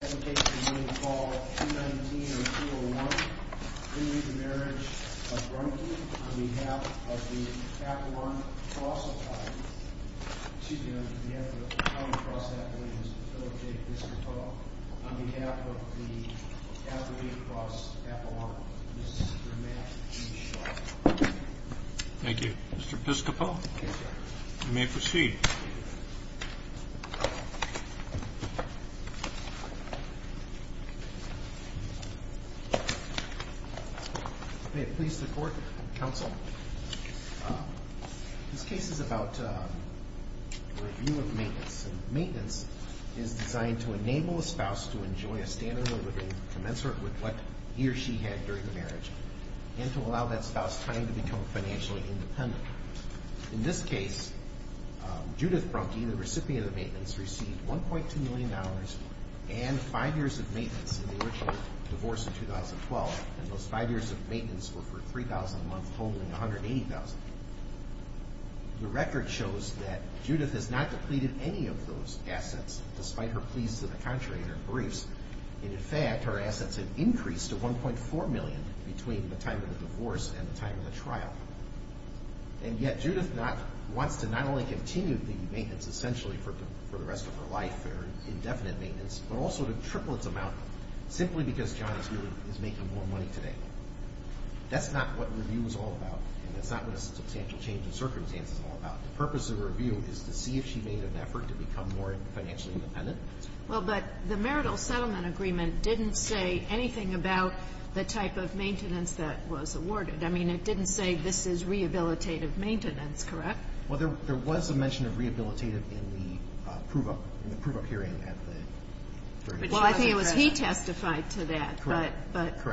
on behalf of the Apple Orange Colossal Tide, on behalf of the Calum Cross Appalachians and Philip J. Piscopo, on behalf of the Appalachian Cross Apple Orange, this is your match to be shot. Thank you. Mr. Piscopo, you may proceed. May it please the Court and Counsel, this case is about the review of maintenance. Maintenance is designed to enable a spouse to enjoy a standard of living commensurate with what he or she had during the marriage and to allow that spouse time to become financially independent. In this case, Judith Brunke, the recipient of the maintenance, received $1.2 million and five years of maintenance in the original divorce in 2012, and those five years of maintenance were for $3,000 a month, holding $180,000. The record shows that Judith has not depleted any of those assets, despite her pleas to the contrator in her briefs, and in fact, her assets have increased to $1.4 million between the time of the divorce and the time of the trial. And yet, Judith wants to not only continue the maintenance, essentially, for the rest of her life, her indefinite maintenance, but also to triple its amount, simply because John is making more money today. That's not what review is all about, and that's not what a substantial change in circumstances is all about. The purpose of review is to see if she made an effort to become more financially independent. Well, but the marital settlement agreement didn't say anything about the type of maintenance that was awarded. I mean, it didn't say this is rehabilitative maintenance, correct? Well, there was a mention of rehabilitative in the prove-up, in the prove-up hearing at the very beginning. Well, I think it was he testified to that. Correct.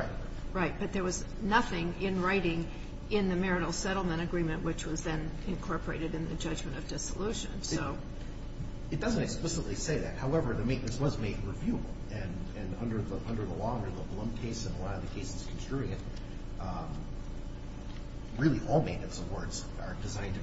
Right. But there was nothing in writing in the marital settlement agreement, which was then incorporated in the judgment of dissolution, so. It doesn't explicitly say that. However, the maintenance was made reviewable. And under the law, under the Blum case and a lot of the cases construing it, really all maintenance awards are designed to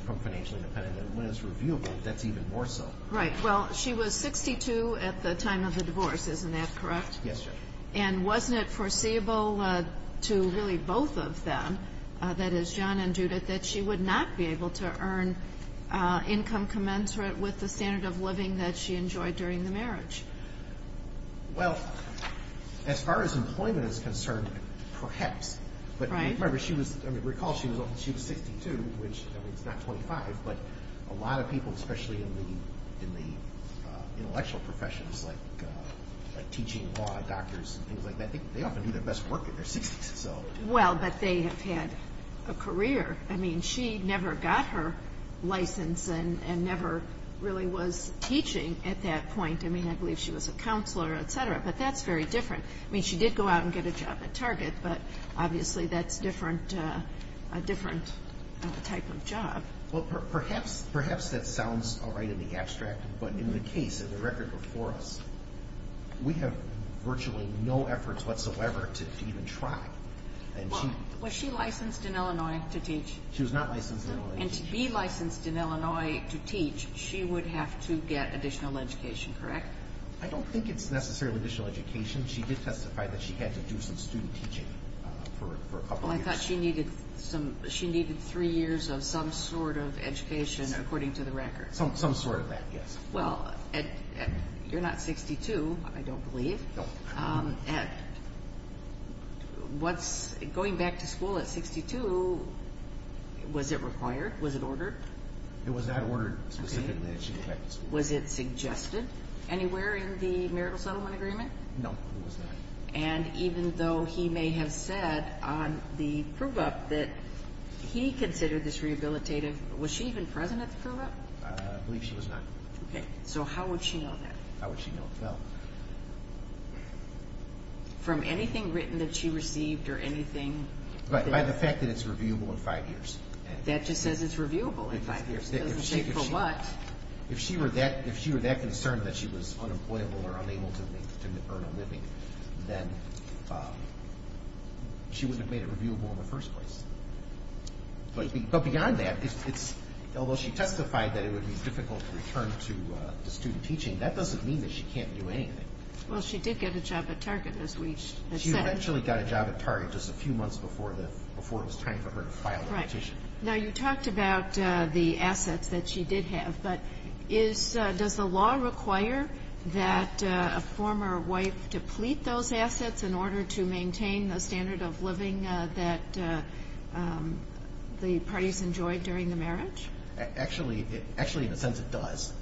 become financially independent. And when it's reviewable, that's even more so. Right. Well, she was 62 at the time of the divorce. Isn't that correct? Yes, Judge. And wasn't it foreseeable to really both of them, that is, John and Judith, that she would not be able to earn income commensurate with the standard of living that she enjoyed during the marriage? Well, as far as employment is concerned, perhaps. Right. I mean, recall she was 62, which, I mean, is not 25, but a lot of people, especially in the intellectual professions, like teaching law, doctors, things like that, they often do their best work at their 60s, so. Well, but they have had a career. I mean, she never got her license and never really was teaching at that point. I mean, I believe she was a counselor, et cetera. But that's very different. I mean, she did go out and get a job at Target, but obviously that's a different type of job. Well, perhaps that sounds all right in the abstract, but in the case of the record before us, we have virtually no efforts whatsoever to even try. Well, was she licensed in Illinois to teach? She was not licensed in Illinois. And to be licensed in Illinois to teach, she would have to get additional education, correct? I don't think it's necessarily additional education. She did testify that she had to do some student teaching for a couple of years. Well, I thought she needed three years of some sort of education, according to the record. Some sort of that, yes. Well, you're not 62, I don't believe. No. And going back to school at 62, was it required? Was it ordered? It was not ordered specifically that she go back to school. Was it suggested anywhere in the marital settlement agreement? No, it was not. And even though he may have said on the prove-up that he considered this rehabilitative, was she even present at the prove-up? I believe she was not. Okay. So how would she know that? How would she know? Well. From anything written that she received or anything? By the fact that it's reviewable in five years. That just says it's reviewable in five years. It doesn't say for what. If she were that concerned that she was unemployable or unable to earn a living, then she wouldn't have made it reviewable in the first place. But beyond that, although she testified that it would be difficult to return to student teaching, that doesn't mean that she can't do anything. Well, she did get a job at Target, as we had said. She eventually got a job at Target just a few months before it was time for her to file the petition. Right. Now, you talked about the assets that she did have. But does the law require that a former wife deplete those assets in order to maintain the standard of living that the parties enjoyed during the marriage? Actually, in a sense, it does.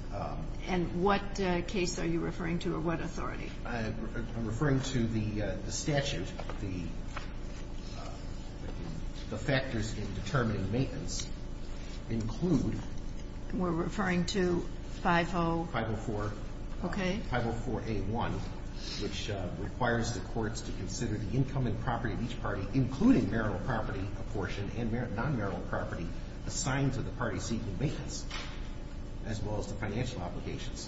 And what case are you referring to or what authority? I'm referring to the statute, the factors in determining maintenance include. We're referring to 504? 504. Okay. 504A1, which requires the courts to consider the income and property of each party, including marital property apportioned and non-marital property, assigned to the parties seeking maintenance, as well as the financial obligations.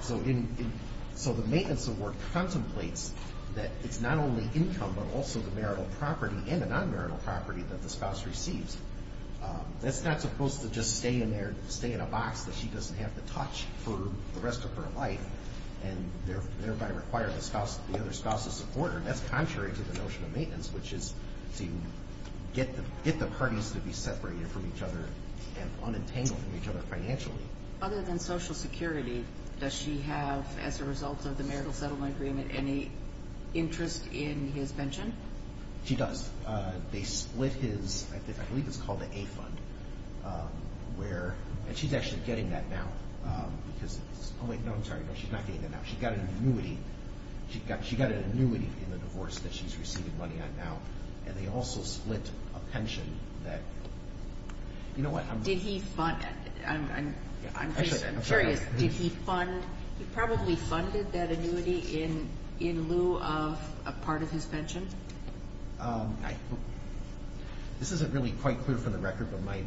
So the maintenance award contemplates that it's not only income but also the marital property and the non-marital property that the spouse receives. That's not supposed to just stay in a box that she doesn't have to touch for the rest of her life and thereby require the other spouse to support her. That's contrary to the notion of maintenance, which is to get the parties to be separated from each other and unentangled from each other financially. Other than Social Security, does she have, as a result of the marital settlement agreement, any interest in his pension? She does. They split his, I believe it's called the A fund, where, and she's actually getting that now because, oh, wait, no, I'm sorry. No, she's not getting that now. She got an annuity. She got an annuity in the divorce that she's receiving money on now, and they also split a pension that, you know what? Did he fund, I'm curious, did he fund, he probably funded that annuity in lieu of a part of his pension? This isn't really quite clear from the record, but my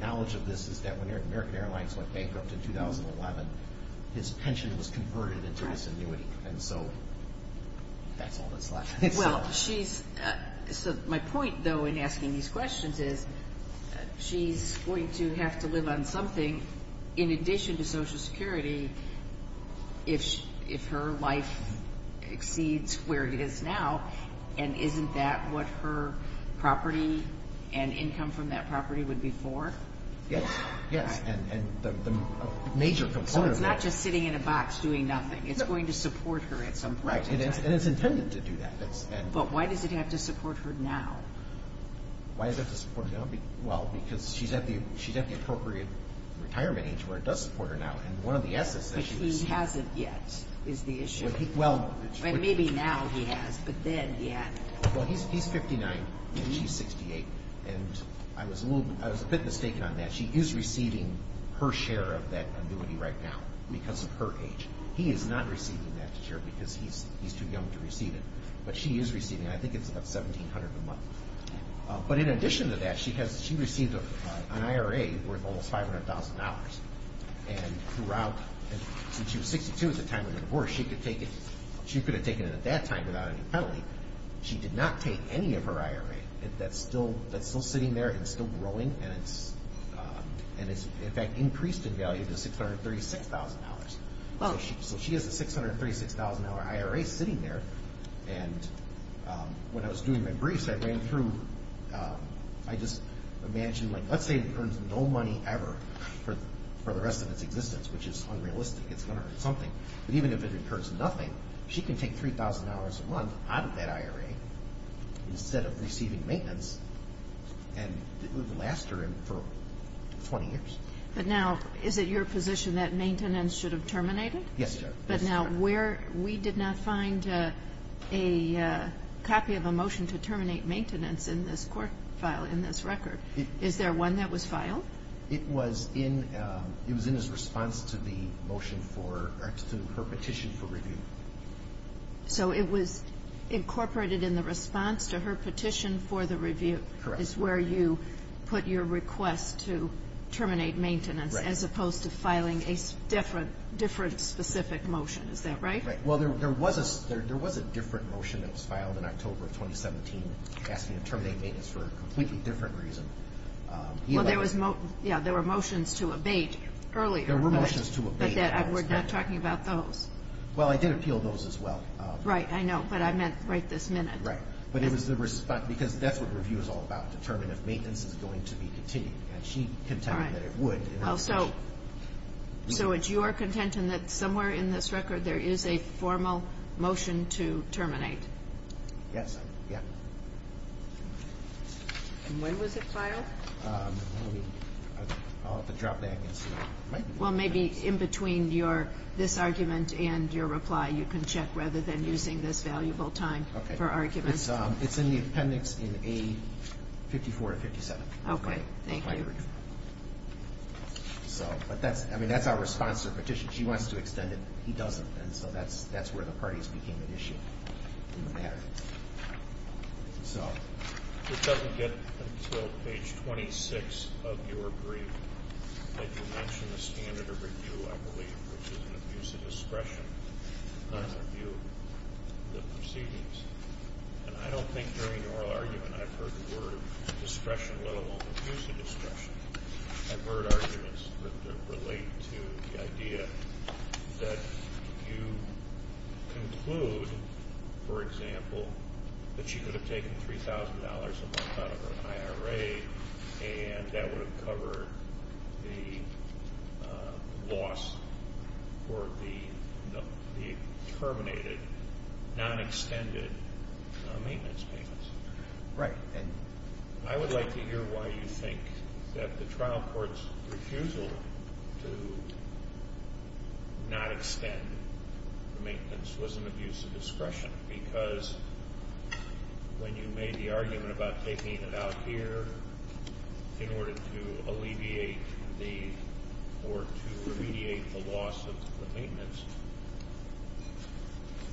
knowledge of this is that when American Airlines went bankrupt in 2011, his pension was converted into this annuity, and so that's all that's left. Well, she's, so my point, though, in asking these questions is she's going to have to live on something in addition to Social Security if her life exceeds where it is now, and isn't that what her property and income from that property would be for? Yes, yes, and the major component of that. So it's not just sitting in a box doing nothing. It's going to support her at some point in time. And it's intended to do that. But why does it have to support her now? Why does it have to support her now? Well, because she's at the appropriate retirement age where it does support her now, and one of the S's that she received. But he hasn't yet is the issue. Well, it's... Maybe now he has, but then he hasn't. Well, he's 59 and she's 68, and I was a bit mistaken on that. She is receiving her share of that annuity right now because of her age. He is not receiving that share because he's too young to receive it, but she is receiving it. I think it's about $1,700 a month. But in addition to that, she received an IRA worth almost $500,000. And throughout, since she was 62 at the time of the divorce, she could have taken it at that time without any penalty. She did not take any of her IRA. That's still sitting there and still growing, and it's, in fact, increased in value to $636,000. So she has a $636,000 IRA sitting there. And when I was doing my briefs, I ran through. I just imagined, like, let's say it earns no money ever for the rest of its existence, which is unrealistic. It's going to earn something. But even if it earns nothing, she can take $3,000 a month out of that IRA instead of receiving maintenance, and it would last her for 20 years. But now, is it your position that maintenance should have terminated? Yes, Your Honor. But now, where we did not find a copy of a motion to terminate maintenance in this court file, in this record. Is there one that was filed? It was in his response to the motion for her petition for review. So it was incorporated in the response to her petition for the review. Correct. So that is where you put your request to terminate maintenance as opposed to filing a different specific motion. Is that right? Right. Well, there was a different motion that was filed in October of 2017 asking to terminate maintenance for a completely different reason. Well, there were motions to abate earlier. There were motions to abate. But we're not talking about those. Well, I did appeal those as well. Right, I know. But I meant right this minute. Right. But it was the response. Because that's what review is all about, determining if maintenance is going to be continued. And she contended that it would. So it's your contention that somewhere in this record there is a formal motion to terminate? Yes. Yeah. And when was it filed? I'll have to drop that and see. Well, maybe in between this argument and your reply, you can check rather than using this valuable time for arguments. It's in the appendix in A54 and 57. Okay. Thank you. But that's our response to the petition. She wants to extend it. He doesn't. And so that's where the parties became an issue in the matter. So this doesn't get until page 26 of your brief that you mention the standard of review, I believe, which is an abuse of discretion on review of the proceedings. And I don't think during your argument I've heard the word discretion, let alone abuse of discretion. I've heard arguments that relate to the idea that you conclude, for example, that she could have taken $3,000 a month out of her IRA, and that would have covered the loss for the terminated, non-extended maintenance payments. Right. I would like to hear why you think that the trial court's refusal to not extend the maintenance was an abuse of discretion, because when you made the argument about taking it out here in order to alleviate the or to remediate the loss of the maintenance,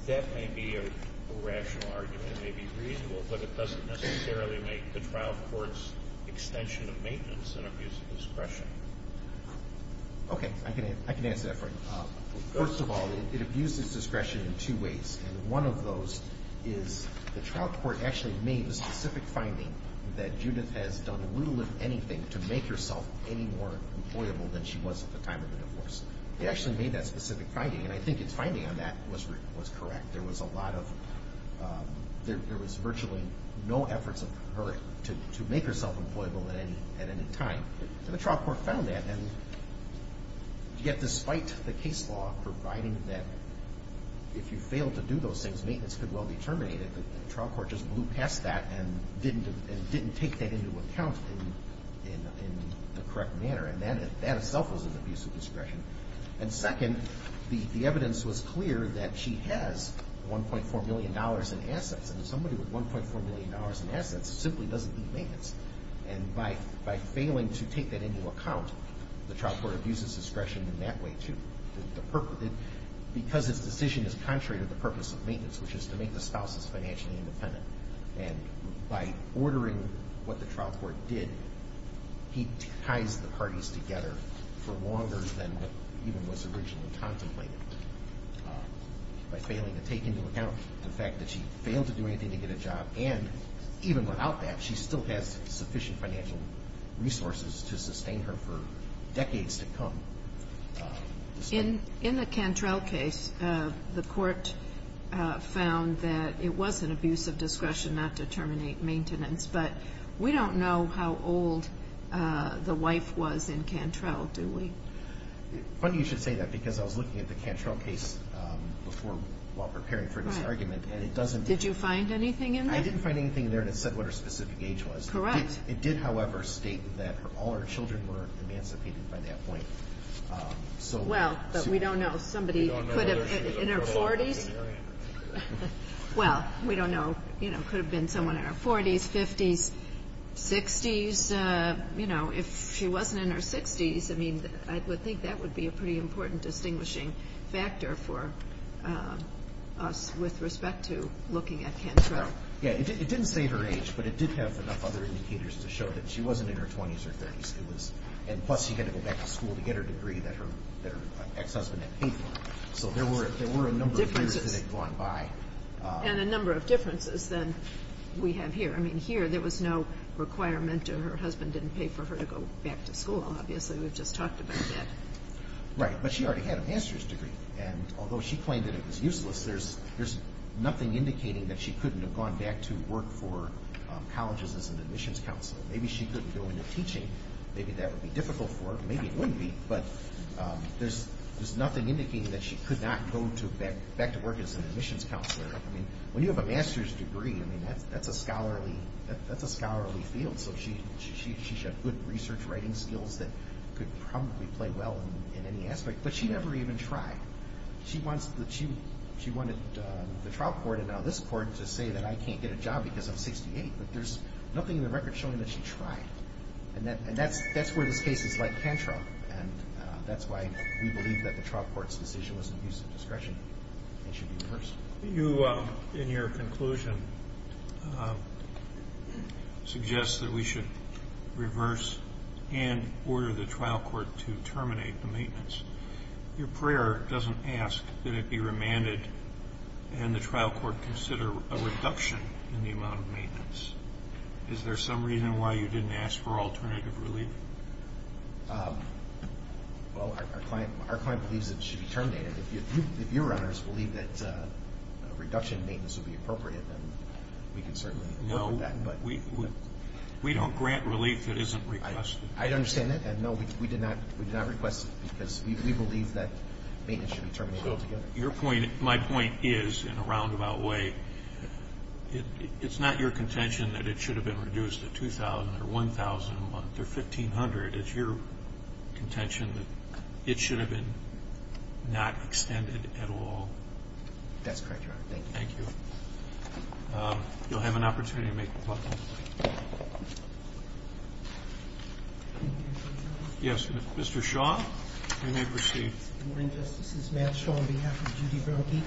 that may be a rational argument, that may be reasonable, but it doesn't necessarily make the trial court's extension of maintenance an abuse of discretion. Okay. I can answer that for you. First of all, it abuses discretion in two ways, and one of those is the trial court actually made a specific finding that Judith has done little if anything to make herself any more employable than she was at the time of the divorce. They actually made that specific finding, and I think its finding on that was correct. There was a lot of, there was virtually no efforts of her to make herself employable at any time, and the trial court found that, and yet despite the case law providing that if you failed to do those things, maintenance could well be terminated, the trial court just blew past that and didn't take that into account in the correct manner, and that itself was an abuse of discretion. And second, the evidence was clear that she has $1.4 million in assets, and somebody with $1.4 million in assets simply doesn't need maintenance, and by failing to take that into account, the trial court abuses discretion in that way, too, because its decision is contrary to the purpose of maintenance, which is to make the spouses financially independent, and by ordering what the trial court did, he ties the parties together for longer than what even was originally contemplated. By failing to take into account the fact that she failed to do anything to get a job, and even without that, she still has sufficient financial resources to sustain her for decades to come. In the Cantrell case, the court found that it was an abuse of discretion not to terminate maintenance, but we don't know how old the wife was in Cantrell, do we? Funny you should say that, because I was looking at the Cantrell case while preparing for this argument, and it doesn't Did you find anything in there? I didn't find anything in there that said what her specific age was. Correct. It did, however, state that all her children were emancipated by that point. Well, but we don't know. Somebody in her 40s? Well, we don't know. It could have been someone in her 40s, 50s, 60s. If she wasn't in her 60s, I think that would be a pretty important distinguishing factor for us with respect to looking at Cantrell. Yeah, it didn't say her age, but it did have enough other indicators to show that she wasn't in her 20s or 30s, and plus she had to go back to school to get her degree that her ex-husband had paid for. So there were a number of years that had gone by. And a number of differences than we have here. I mean, here there was no requirement that her husband didn't pay for her to go back to school, obviously. We've just talked about that. Right, but she already had a master's degree, and although she claimed that it was useless, there's nothing indicating that she couldn't have gone back to work for colleges as an admissions counselor. Maybe she couldn't go into teaching. Maybe that would be difficult for her. Maybe it wouldn't be, but there's nothing indicating that she could not go back to work as an admissions counselor. I mean, when you have a master's degree, I mean, that's a scholarly field. So she should have good research writing skills that could probably play well in any aspect, but she never even tried. She wanted the trial court and now this court to say that I can't get a job because I'm 68, but there's nothing in the record showing that she tried. And that's where this case is like tantrum, and that's why we believe that the trial court's decision was an abuse of discretion and should be reversed. You, in your conclusion, suggest that we should reverse and order the trial court to terminate the maintenance. Your prayer doesn't ask that it be remanded and the trial court consider a reduction in the amount of maintenance. Is there some reason why you didn't ask for alternative relief? Well, our client believes it should be terminated. If you, your honors, believe that a reduction in maintenance would be appropriate, then we can certainly go for that. No, we don't grant relief that isn't requested. I understand that. And, no, we did not request it because we believe that maintenance should be terminated altogether. So your point, my point is, in a roundabout way, it's not your contention that it should have been reduced to $2,000 or $1,000 a month or $1,500. It's your contention that it should have been not extended at all. Thank you. Thank you. You'll have an opportunity to make your point. Yes, Mr. Shaw, you may proceed. Good morning, Justices. Matt Shaw on behalf of Judy Berlke.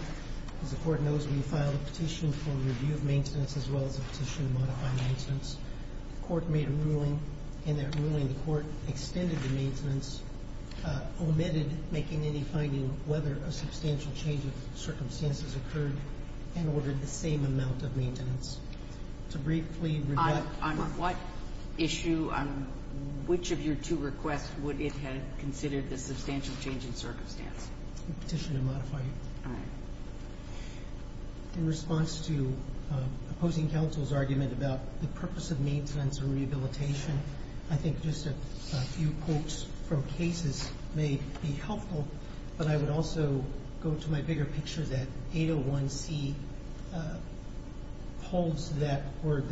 As the Court knows, we filed a petition for review of maintenance as well as a petition to modify maintenance. The Court made a ruling, and that ruling, the Court extended the maintenance, omitted making any finding whether a substantial change of circumstances occurred, and ordered the same amount of maintenance. To briefly rebut... On what issue, on which of your two requests, would it have considered the substantial change in circumstance? The petition to modify it. All right. In response to opposing counsel's argument about the purpose of maintenance and rehabilitation, I think just a few quotes from cases may be helpful, but I would also go to my bigger picture that 801C holds that, or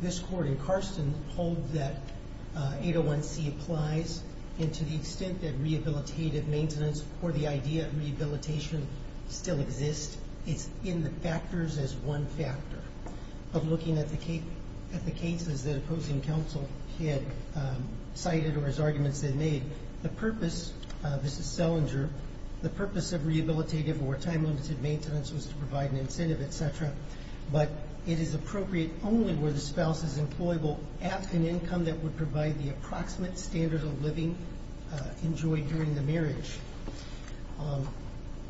this Court in Carson holds that 801C applies, and to the extent that rehabilitative maintenance or the idea of rehabilitation still exists, it's in the factors as one factor. But looking at the cases that opposing counsel had cited or his arguments they made, the purpose, this is Selinger, the purpose of rehabilitative or time-limited maintenance was to provide an incentive, et cetera, but it is appropriate only where the spouse is employable at an income that would provide the approximate standard of living enjoyed during the marriage.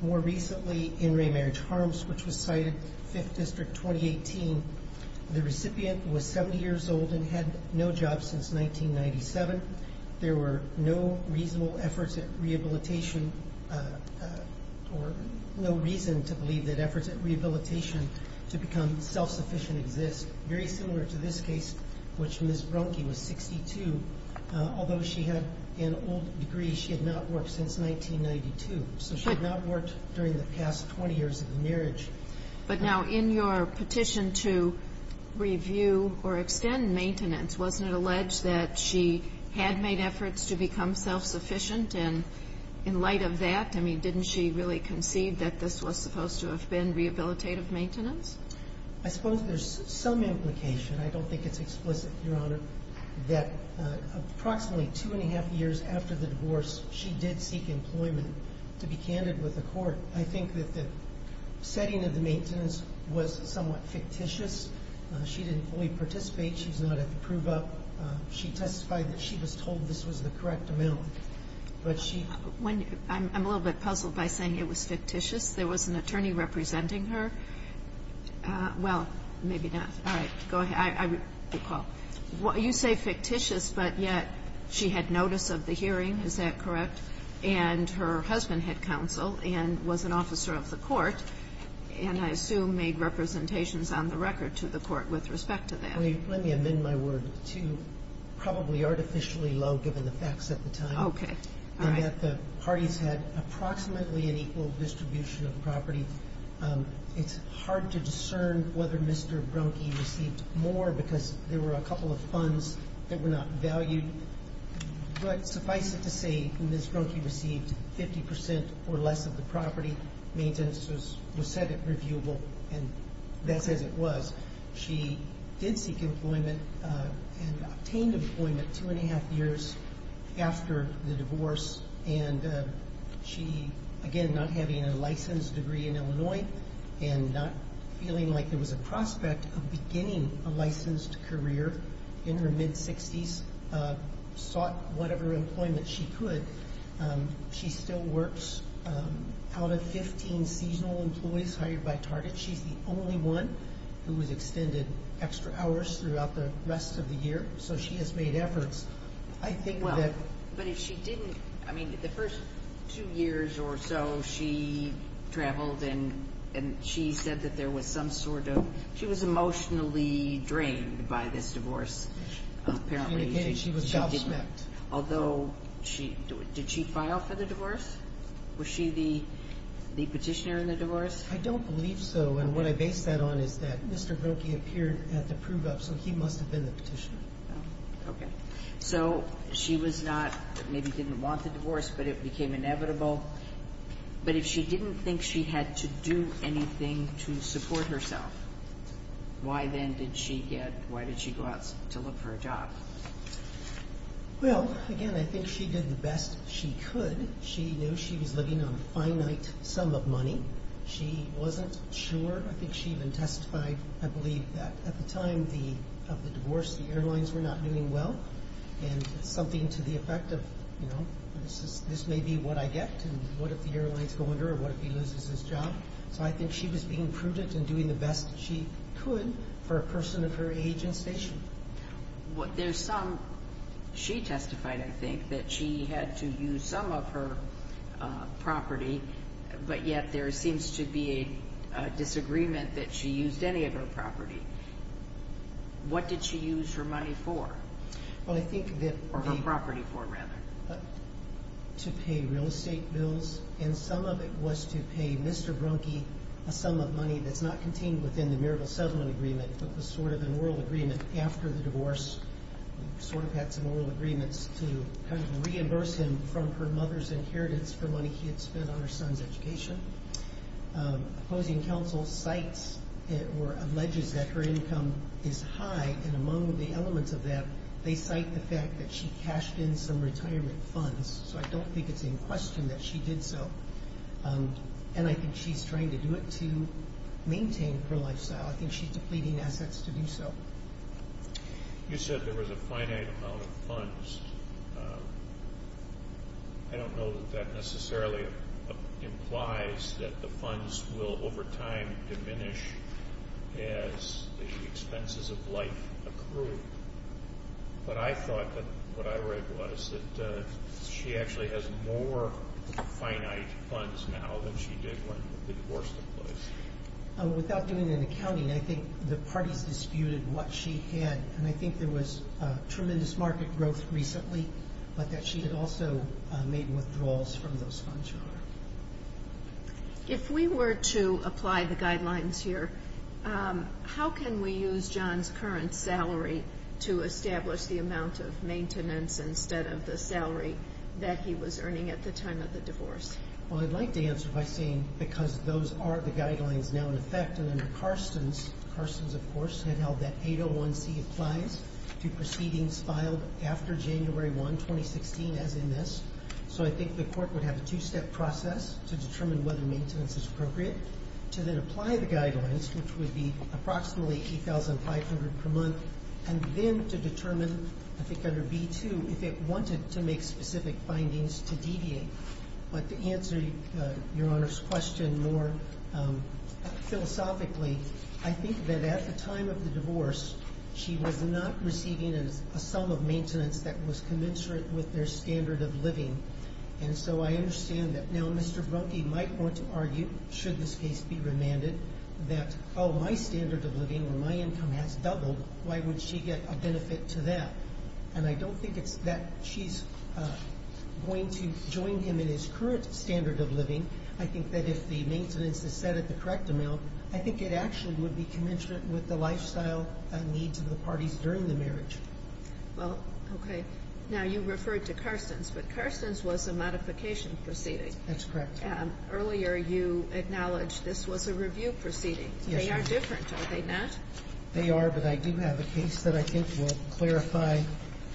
More recently, in Raymarriage Harms, which was cited, 5th District, 2018, the recipient was 70 years old and had no job since 1997. There were no reasonable efforts at rehabilitation or no reason to believe that efforts at rehabilitation to become self-sufficient exist. Very similar to this case, which Ms. Brunke was 62. Although she had an old degree, she had not worked since 1992, so she had not worked during the past 20 years of the marriage. But now in your petition to review or extend maintenance, wasn't it alleged that she had made efforts to become self-sufficient? And in light of that, I mean, didn't she really concede that this was supposed to have been rehabilitative maintenance? I suppose there's some implication. I don't think it's explicit, Your Honor, that approximately two and a half years after the divorce, she did seek employment, to be candid with the court. I think that the setting of the maintenance was somewhat fictitious. She didn't fully participate. She's not at the prove-up. She testified that she was told this was the correct amount. I'm a little bit puzzled by saying it was fictitious. There was an attorney representing her. Well, maybe not. All right. Go ahead. You say fictitious, but yet she had notice of the hearing. Is that correct? And her husband had counsel and was an officer of the court, and I assume made representations on the record to the court with respect to that. Let me amend my word to probably artificially low, given the facts at the time. Okay. All right. And that the parties had approximately an equal distribution of property. It's hard to discern whether Mr. Brunke received more because there were a couple of funds that were not valued. But suffice it to say, Ms. Brunke received 50% or less of the property. Maintenance was said at reviewable, and that's as it was. She did seek employment and obtained employment two and a half years after the divorce. And she, again, not having a licensed degree in Illinois and not feeling like there was a prospect of beginning a licensed career in her mid-60s, sought whatever employment she could. She still works out of 15 seasonal employees hired by Target. She's the only one who has extended extra hours throughout the rest of the year. So she has made efforts. Well, but if she didn't, I mean, the first two years or so she traveled and she said that there was some sort of, she was emotionally drained by this divorce. She indicated she was doubt-smacked. Although, did she file for the divorce? Was she the petitioner in the divorce? I don't believe so, and what I base that on is that Mr. Brunke appeared at the prove-up, so he must have been the petitioner. Okay. So she was not, maybe didn't want the divorce, but it became inevitable. But if she didn't think she had to do anything to support herself, why then did she go out to look for a job? Well, again, I think she did the best she could. She knew she was living on a finite sum of money. She wasn't sure. I think she even testified, I believe, that at the time of the divorce, the airlines were not doing well, and something to the effect of, you know, this may be what I get and what if the airlines go under or what if he loses his job. So I think she was being prudent and doing the best she could for a person of her age and station. There's some, she testified, I think, that she had to use some of her property, but yet there seems to be a disagreement that she used any of her property. What did she use her money for? Well, I think that the— Or her property for, rather. To pay real estate bills, and some of it was to pay Mr. Brunke a sum of money that's not contained within the marital settlement agreement, but was sort of an oral agreement after the divorce. Sort of had some oral agreements to kind of reimburse him from her mother's inheritance for money he had spent on her son's education. Opposing counsel cites or alleges that her income is high, and among the elements of that they cite the fact that she cashed in some retirement funds. So I don't think it's in question that she did so, and I think she's trying to do it to maintain her lifestyle. I think she's depleting assets to do so. You said there was a finite amount of funds. I don't know that that necessarily implies that the funds will over time diminish as the expenses of life accrue, but I thought that what I read was that she actually has more finite funds now than she did when the divorce took place. Without doing any accounting, I think the parties disputed what she had, and I think there was tremendous market growth recently, but that she had also made withdrawals from those funds. If we were to apply the guidelines here, how can we use John's current salary to establish the amount of maintenance instead of the salary that he was earning at the time of the divorce? Well, I'd like to answer by saying because those are the guidelines now in effect, and under Carstens, Carstens, of course, had held that 801C applies to proceedings filed after January 1, 2016, as in this. So I think the court would have a two-step process to determine whether maintenance is appropriate, to then apply the guidelines, which would be approximately $8,500 per month, and then to determine, I think under B2, if it wanted to make specific findings to deviate. But to answer Your Honor's question more philosophically, I think that at the time of the divorce, she was not receiving a sum of maintenance that was commensurate with their standard of living. And so I understand that now Mr. Brunke might want to argue, should this case be remanded, that, oh, my standard of living or my income has doubled, why would she get a benefit to that? And I don't think it's that she's going to join him in his current standard of living. I think that if the maintenance is set at the correct amount, I think it actually would be commensurate with the lifestyle needs of the parties during the marriage. Well, okay. Now you referred to Carstens, but Carstens was a modification proceeding. That's correct. Earlier you acknowledged this was a review proceeding. Yes, Your Honor. They are different, are they not? They are, but I do have a case that I think will clarify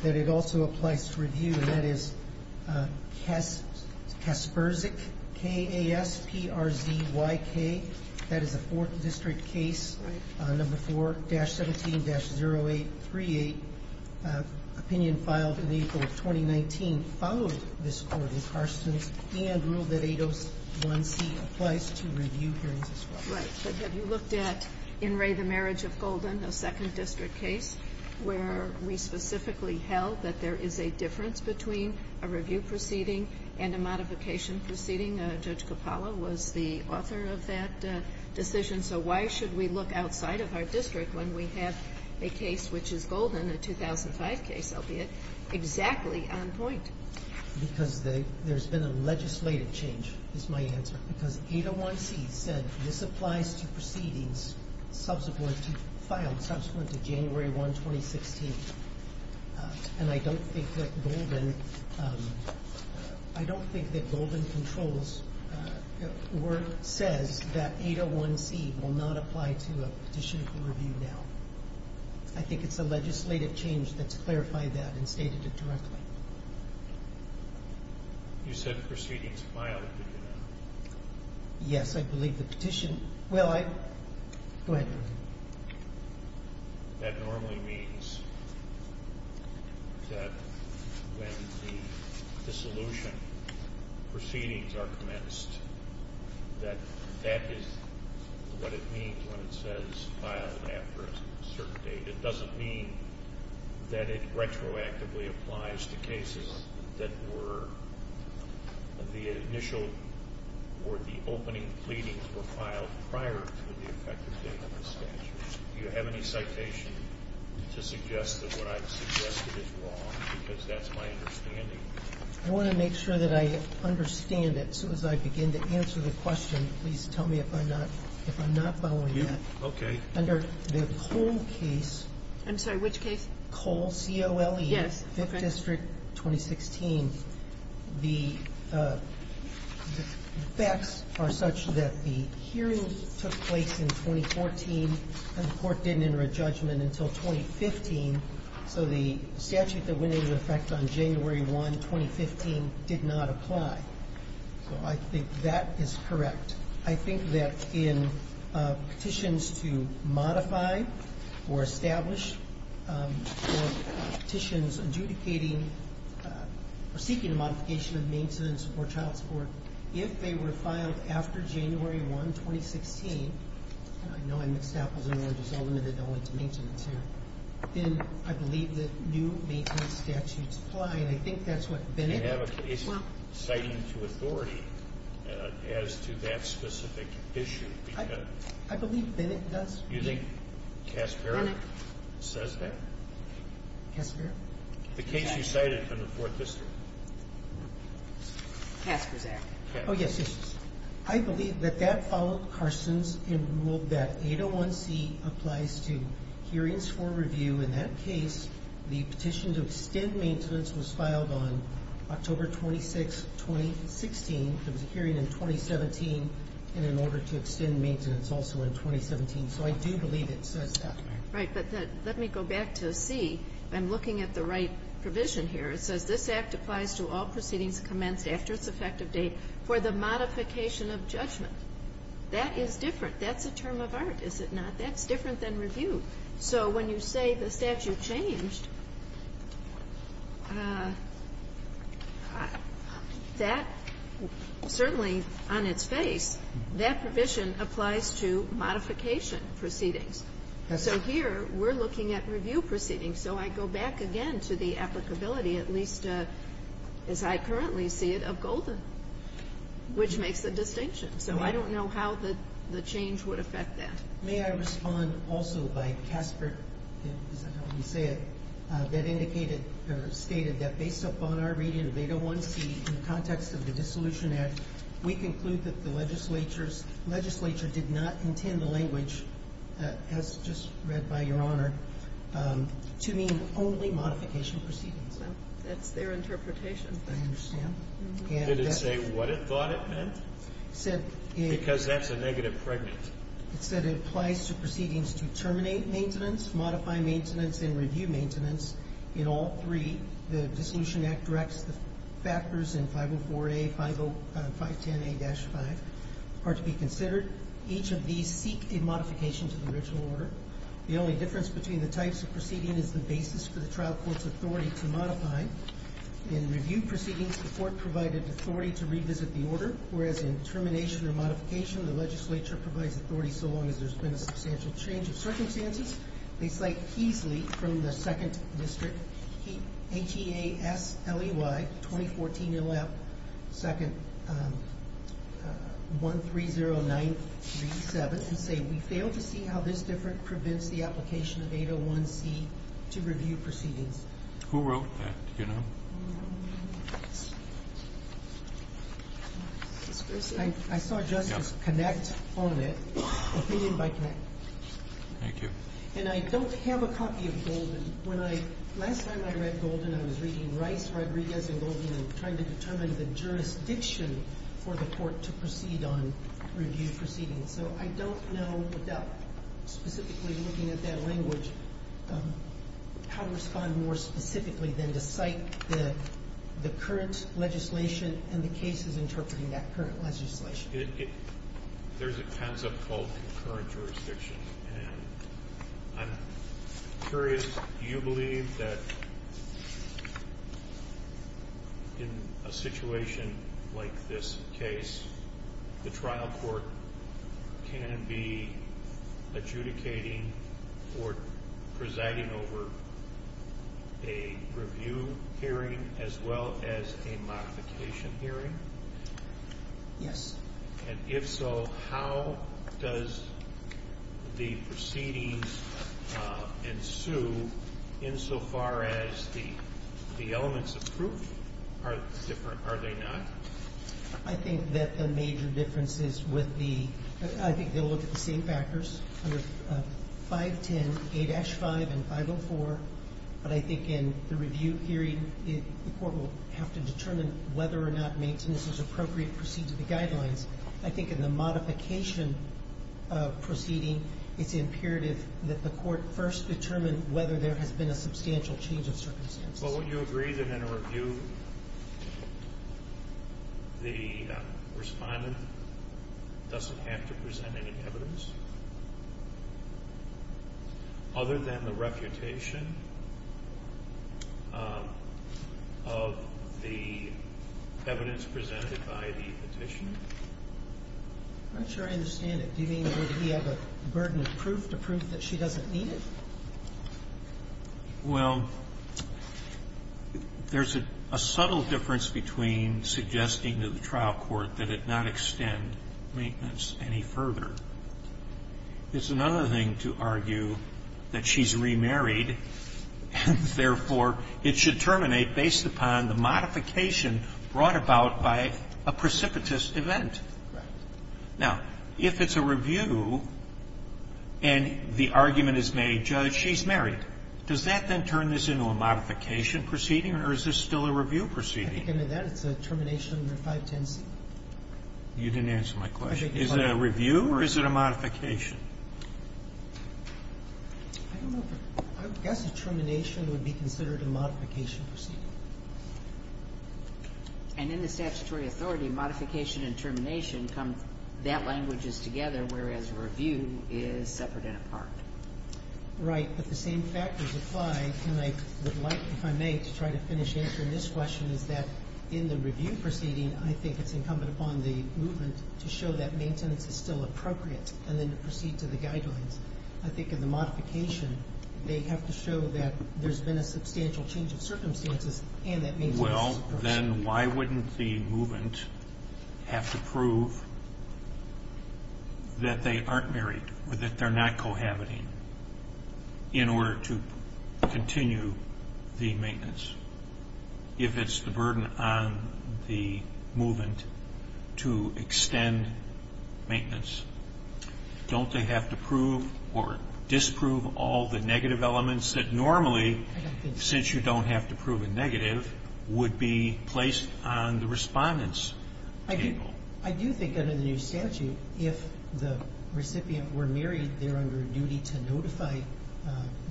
that it also applies to review, and that is Kasperzyk, K-A-S-P-R-Z-Y-K. That is a Fourth District case, number 4-17-0838, opinion filed in April of 2019, followed this court in Carstens and ruled that 801C applies to review hearings as well. Right, but have you looked at In Re, the Marriage of Golden, a Second District case where we specifically held that there is a difference between a review proceeding and a modification proceeding? Judge Coppola was the author of that decision. So why should we look outside of our district when we have a case which is golden, a 2005 case, albeit exactly on point? Because there's been a legislative change, is my answer, because 801C said this applies to proceedings filed subsequent to January 1, 2016, and I don't think that Golden Controls says that 801C will not apply to a petition for review now. I think it's a legislative change that's clarified that and stated it directly. You said proceedings filed, did you not? Yes, I believe the petition – well, I – go ahead. That normally means that when the dissolution proceedings are commenced, that that is what it means when it says filed after a certain date. It doesn't mean that it retroactively applies to cases that were the initial or the opening pleadings were filed prior to the effective date of the statute. Do you have any citation to suggest that what I've suggested is wrong? Because that's my understanding. I want to make sure that I understand it. So as I begin to answer the question, please tell me if I'm not following that. Okay. Under the Cole case – I'm sorry, which case? Cole, C-O-L-E. Yes. Fifth District, 2016, the facts are such that the hearing took place in 2014 and the court didn't enter a judgment until 2015, so the statute that went into effect on January 1, 2015, did not apply. So I think that is correct. I think that in petitions to modify or establish or petitions adjudicating or seeking a modification of maintenance or child support, if they were filed after January 1, 2016, and I know I mixed that up because I know it was only to maintenance here, then I believe that new maintenance statutes apply. And I think that's what Bennett –– citing to authority as to that specific issue. I believe Bennett does. You think Casper says that? Casper? The case you cited in the Fourth District. Casper's Act. Oh, yes. I believe that that followed Carson's rule that 801C applies to hearings for review. In that case, the petition to extend maintenance was filed on October 26, 2016. There was a hearing in 2017, and in order to extend maintenance also in 2017. So I do believe it says that. Right. But let me go back to C. I'm looking at the right provision here. It says this Act applies to all proceedings commenced after its effective date for the modification of judgment. That is different. That's a term of art, is it not? That's different than review. So when you say the statute changed, that certainly on its face, that provision applies to modification proceedings. So here we're looking at review proceedings. So I go back again to the applicability, at least as I currently see it, of Golden, which makes a distinction. So I don't know how the change would affect that. May I respond also by Casper? Is that how you say it? That indicated or stated that based upon our reading of 801C, in the context of the Dissolution Act, we conclude that the legislature did not intend the language, as just read by Your Honor, to mean only modification proceedings. So that's their interpretation. I understand. Did it say what it thought it meant? Because that's a negative pregnant. It said it applies to proceedings to terminate maintenance, modify maintenance, and review maintenance in all three. The Dissolution Act directs the factors in 504A, 510A-5 are to be considered. Each of these seek a modification to the original order. The only difference between the types of proceeding is the basis for the trial court's authority to modify. In review proceedings, the court provided authority to revisit the order, whereas in termination or modification, the legislature provides authority so long as there's been a substantial change of circumstances. They cite Keasley from the 2nd District, H-E-A-S-L-E-Y-2014-L-F-2-1-3-0-9-3-7, and say, we fail to see how this difference prevents the application of 801C to review proceedings. Who wrote that, do you know? I saw Justice Connacht on it, opinion by Connacht. Thank you. And I don't have a copy of Golden. Last time I read Golden, I was reading Rice, Rodriguez, and Golden and trying to determine the jurisdiction for the court to proceed on review proceedings. So I don't know without specifically looking at that language how to respond more specifically than to cite the current legislation and the cases interpreting that current legislation. There's a tense-up called concurrent jurisdiction, and I'm curious, do you believe that in a situation like this case, the trial court can be adjudicating or presiding over a review hearing as well as a modification hearing? Yes. And if so, how does the proceedings ensue insofar as the elements of proof are different, are they not? I think that the major difference is with the ‑‑ I think they'll look at the same factors under 510A-5 and 504, but I think in the review hearing, the court will have to determine whether or not maintenance is appropriate to proceed to the guidelines. I think in the modification proceeding, it's imperative that the court first determine whether there has been a substantial change of circumstances. Well, wouldn't you agree that in a review, the respondent doesn't have to present any evidence other than the reputation of the evidence presented by the petitioner? I'm not sure I understand it. Do you mean that we have a burden of proof to prove that she doesn't need it? Well, there's a subtle difference between suggesting to the trial court that it not extend maintenance any further. It's another thing to argue that she's remarried, and therefore it should terminate based upon the modification brought about by a precipitous event. Right. Now, if it's a review and the argument is made, Judge, she's married, does that then turn this into a modification proceeding or is this still a review proceeding? At the beginning of that, it's a termination under 510C. You didn't answer my question. Is it a review or is it a modification? I guess a termination would be considered a modification proceeding. And in the statutory authority, modification and termination, that language is together, whereas review is separate and apart. Right. But the same factors apply, and I would like, if I may, to try to finish answering this question, is that in the review proceeding, I think it's incumbent upon the movement to show that maintenance is still appropriate and then to proceed to the guidelines. I think in the modification, they have to show that there's been a substantial change in circumstances and that maintenance is appropriate. Well, then why wouldn't the movement have to prove that they aren't married or that they're not cohabiting in order to continue the maintenance? If it's the burden on the movement to extend maintenance, don't they have to prove or disprove all the negative elements that normally, since you don't have to prove a negative, would be placed on the respondent's table? I do think under the new statute, if the recipient were married, they're under duty to notify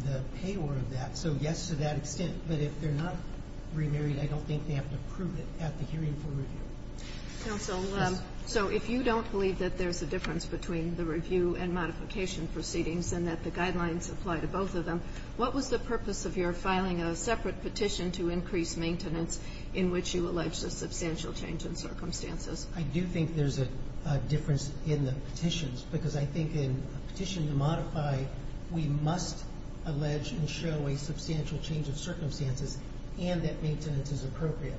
the payor of that. So, yes, to that extent. But if they're not remarried, I don't think they have to prove it at the hearing for review. Counsel, so if you don't believe that there's a difference between the review and modification proceedings and that the guidelines apply to both of them, what was the purpose of your filing a separate petition to increase maintenance in which you alleged a substantial change in circumstances? I do think there's a difference in the petitions because I think in a petition to modify, we must allege and show a substantial change of circumstances and that maintenance is appropriate.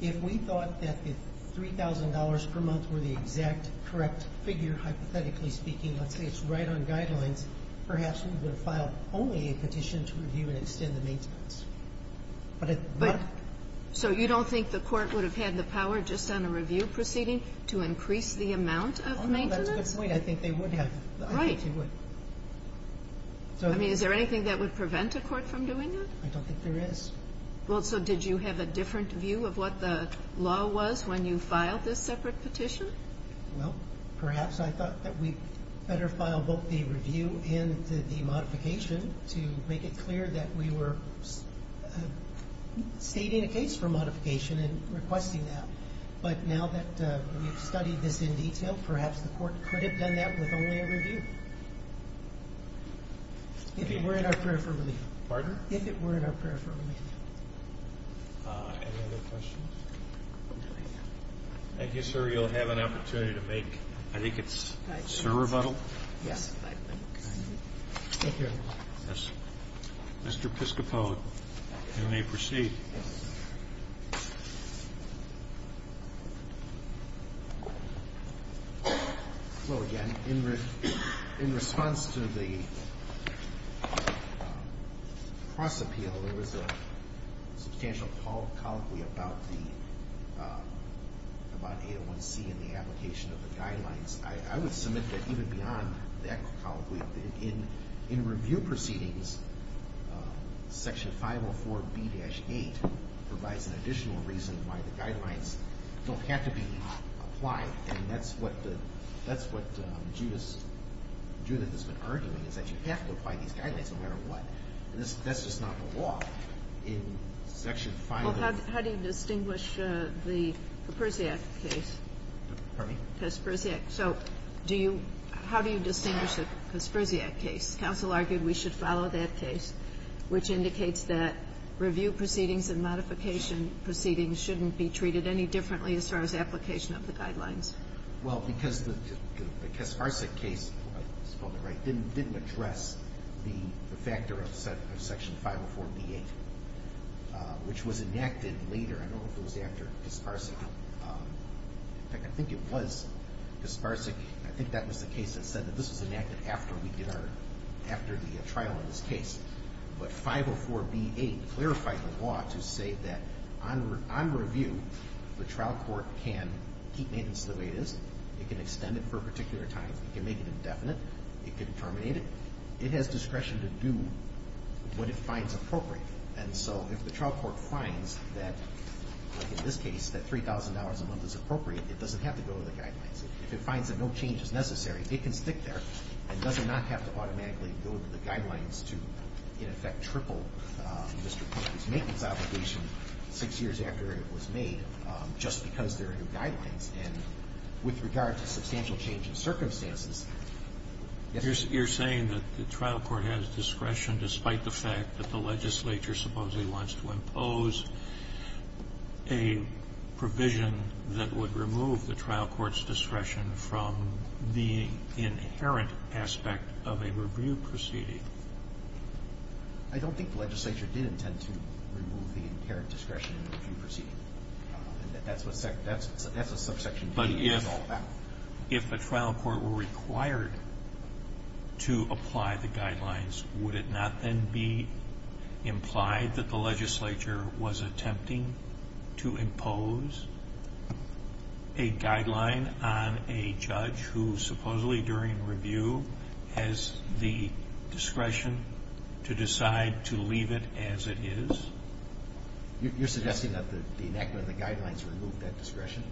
If we thought that the $3,000 per month were the exact correct figure, hypothetically speaking, let's say it's right on guidelines, perhaps we would have filed only a petition to review and extend the maintenance. But it's not. So you don't think the court would have had the power just on a review proceeding to increase the amount of maintenance? Oh, that's a good point. I think they would have. Right. I think they would. I mean, is there anything that would prevent a court from doing that? I don't think there is. Well, so did you have a different view of what the law was when you filed this separate petition? Well, perhaps I thought that we better file both the review and the modification to make it clear that we were stating a case for modification and requesting that. But now that we've studied this in detail, perhaps the court could have done that with only a review. If it were in our prayer for relief. Pardon? If it were in our prayer for relief. Any other questions? No, thank you. Thank you, sir. You'll have an opportunity to make, I think it's a server model. Yes, I think so. Thank you very much. Yes. Mr. Piscopo, you may proceed. Yes. Hello again. In response to the cross-appeal, there was a substantial colloquy about AO1C and the application of the guidelines. I would submit that even beyond that colloquy, in review proceedings, Section 504B-8 provides an additional reason why the guidelines don't have to be applied. And that's what Judith has been arguing, is that you have to apply these guidelines no matter what. That's just not the law. In Section 504B-8. Well, how do you distinguish the Kaspersiak case? Pardon me? Kaspersiak. Kaspersiak. So how do you distinguish the Kaspersiak case? Counsel argued we should follow that case, which indicates that review proceedings and modification proceedings shouldn't be treated any differently as far as application of the guidelines. Well, because the Kaspersiak case didn't address the factor of Section 504B-8, which was enacted later. I don't know if it was after Kaspersiak. In fact, I think it was Kaspersiak. I think that was the case that said that this was enacted after we did our, after the trial in this case. But 504B-8 clarified the law to say that on review, the trial court can keep maintenance the way it is. It can extend it for particular times. It can make it indefinite. It can terminate it. It has discretion to do what it finds appropriate. And so if the trial court finds that, like in this case, that $3,000 a month is appropriate, it doesn't have to go to the guidelines. If it finds that no change is necessary, it can stick there and doesn't have to automatically go to the guidelines to, in effect, triple Mr. Parker's maintenance obligation six years after it was made just because there are new guidelines. And with regard to substantial change in circumstances, yes. You're saying that the trial court has discretion, despite the fact that the legislature supposedly wants to impose a provision that would remove the trial court's discretion from the inherent aspect of a review proceeding? I don't think the legislature did intend to remove the inherent discretion in a review proceeding. That's what subsection D is all about. But if a trial court were required to apply the guidelines, would it not then be implied that the legislature was attempting to impose a guideline on a judge who supposedly during review has the discretion to decide to leave it as it is? You're suggesting that the enactment of the guidelines removed that discretion?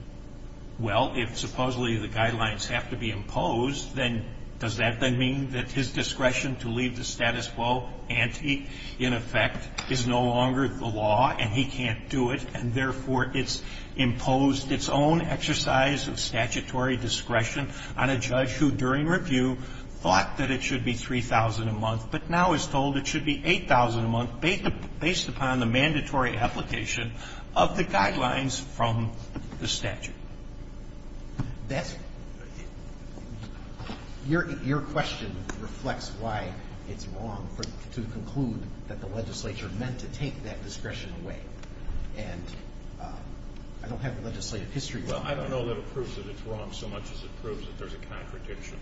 Well, if supposedly the guidelines have to be imposed, then does that then mean that his discretion to leave the status quo ante, in effect, is no longer the law and he can't do it, and therefore it's imposed its own exercise of statutory discretion on a judge who during review thought that it should be $3,000 a month but now is told it should be $8,000 a month based upon the mandatory application of the guidelines from the statute? That's your question reflects why it's wrong to conclude that the legislature meant to take that discretion away. And I don't have the legislative history. Well, I don't know that it proves that it's wrong so much as it proves that there's a contradiction.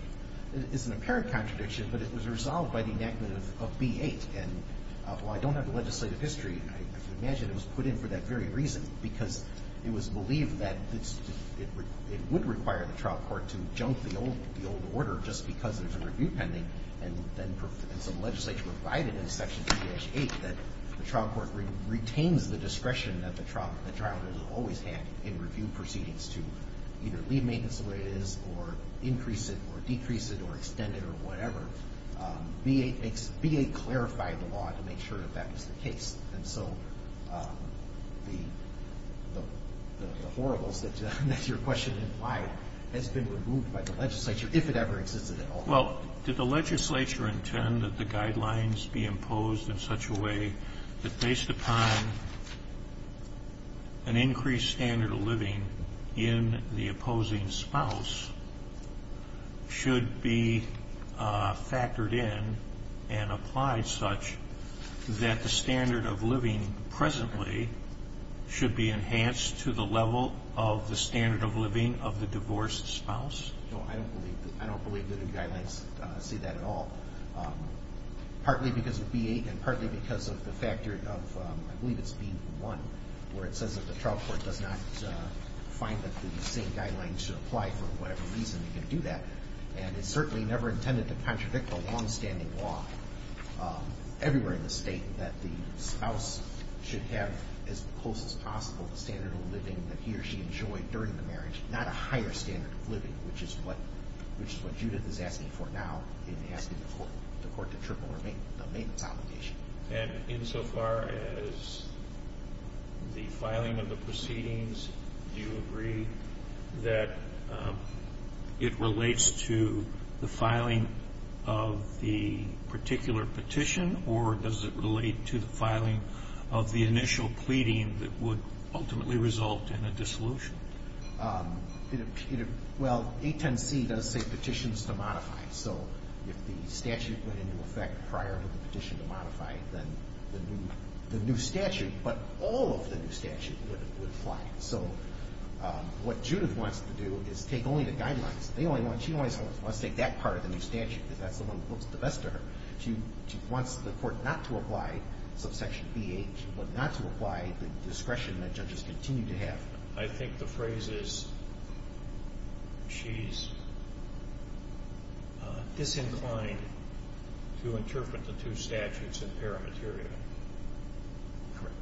It's an apparent contradiction, but it was resolved by the enactment of B-8. And while I don't have the legislative history, I imagine it was put in for that very reason, because it was believed that it would require the trial court to junk the old order just because there's a review pending, and so the legislature provided in Section 3-8 that the trial court retains the discretion that the trial does always have in review proceedings to either leave maintenance the way it is or increase it or decrease it or extend it or whatever. B-8 clarified the law to make sure that that was the case. And so the horribles that your question implied has been removed by the legislature if it ever existed at all. Well, did the legislature intend that the guidelines be imposed in such a way that based upon an increased standard of living in the opposing spouse should be factored in and applied such that the standard of living presently should be enhanced to the level of the standard of living of the divorced spouse? No, I don't believe that the guidelines say that at all, partly because of B-8 and partly because of the factor of, I believe it's B-1, where it says that the trial court does not find that the same guidelines should apply for whatever reason And it's certainly never intended to contradict the longstanding law everywhere in the State that the spouse should have as close as possible the standard of living that he or she enjoyed during the marriage, not a higher standard of living, which is what Judith is asking for now in asking the court to triple her maintenance obligation. And insofar as the filing of the proceedings, do you agree that it relates to the filing of the particular petition or does it relate to the filing of the initial pleading that would ultimately result in a dissolution? Well, 810C does say petitions to modify. So if the statute went into effect prior to the petition to modify, then the new statute, but all of the new statute, would apply. So what Judith wants to do is take only the guidelines. She always wants to take that part of the new statute because that's the one that looks the best to her. She wants the court not to apply subsection B-8. She wants not to apply the discretion that judges continue to have. I think the phrase is she's disinclined to interpret the two statutes in paramaterial. Correct.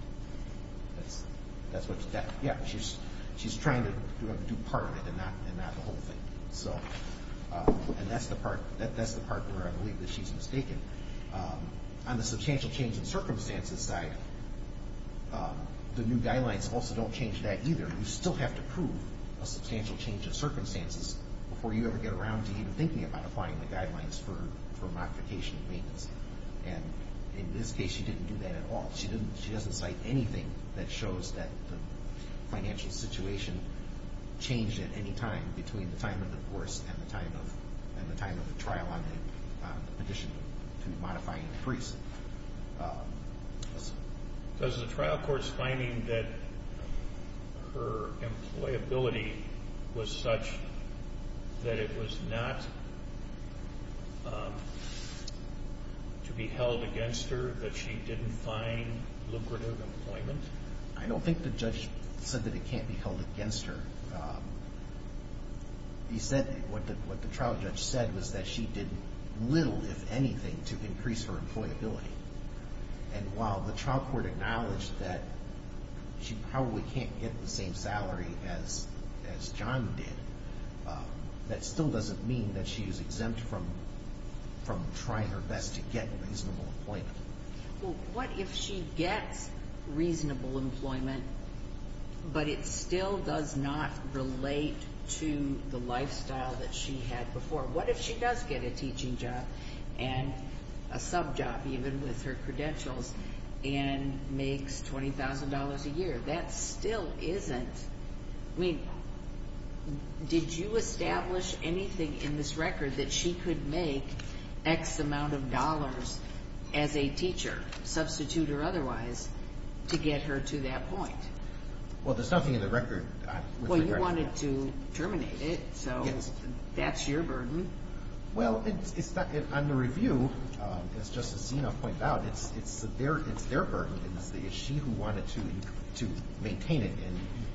That's what she's trying to do part of it and not the whole thing. And that's the part where I believe that she's mistaken. On the substantial change in circumstances side, the new guidelines also don't change that either. You still have to prove a substantial change in circumstances before you ever get around to even thinking about applying the guidelines for modification and maintenance. And in this case, she didn't do that at all. She doesn't cite anything that shows that the financial situation changed at any time between the time of the divorce and the time of the trial on the petition to modify and increase. Does the trial court's finding that her employability was such that it was not to be held against her, that she didn't find lucrative employment? I don't think the judge said that it can't be held against her. He said what the trial judge said was that she did little, if anything, to increase her employability. And while the trial court acknowledged that she probably can't get the same salary as John did, that still doesn't mean that she is exempt from trying her best to get reasonable employment. Well, what if she gets reasonable employment, but it still does not relate to the lifestyle that she had before? What if she does get a teaching job and a sub-job, even with her credentials, and makes $20,000 a year? That still isn't – I mean, did you establish anything in this record that she could make X amount of dollars as a teacher, substitute or otherwise, to get her to that point? Well, there's nothing in the record with regard to that. Well, you wanted to terminate it, so that's your burden. Well, on the review, as Justice Seno pointed out, it's their burden. It's she who wanted to maintain it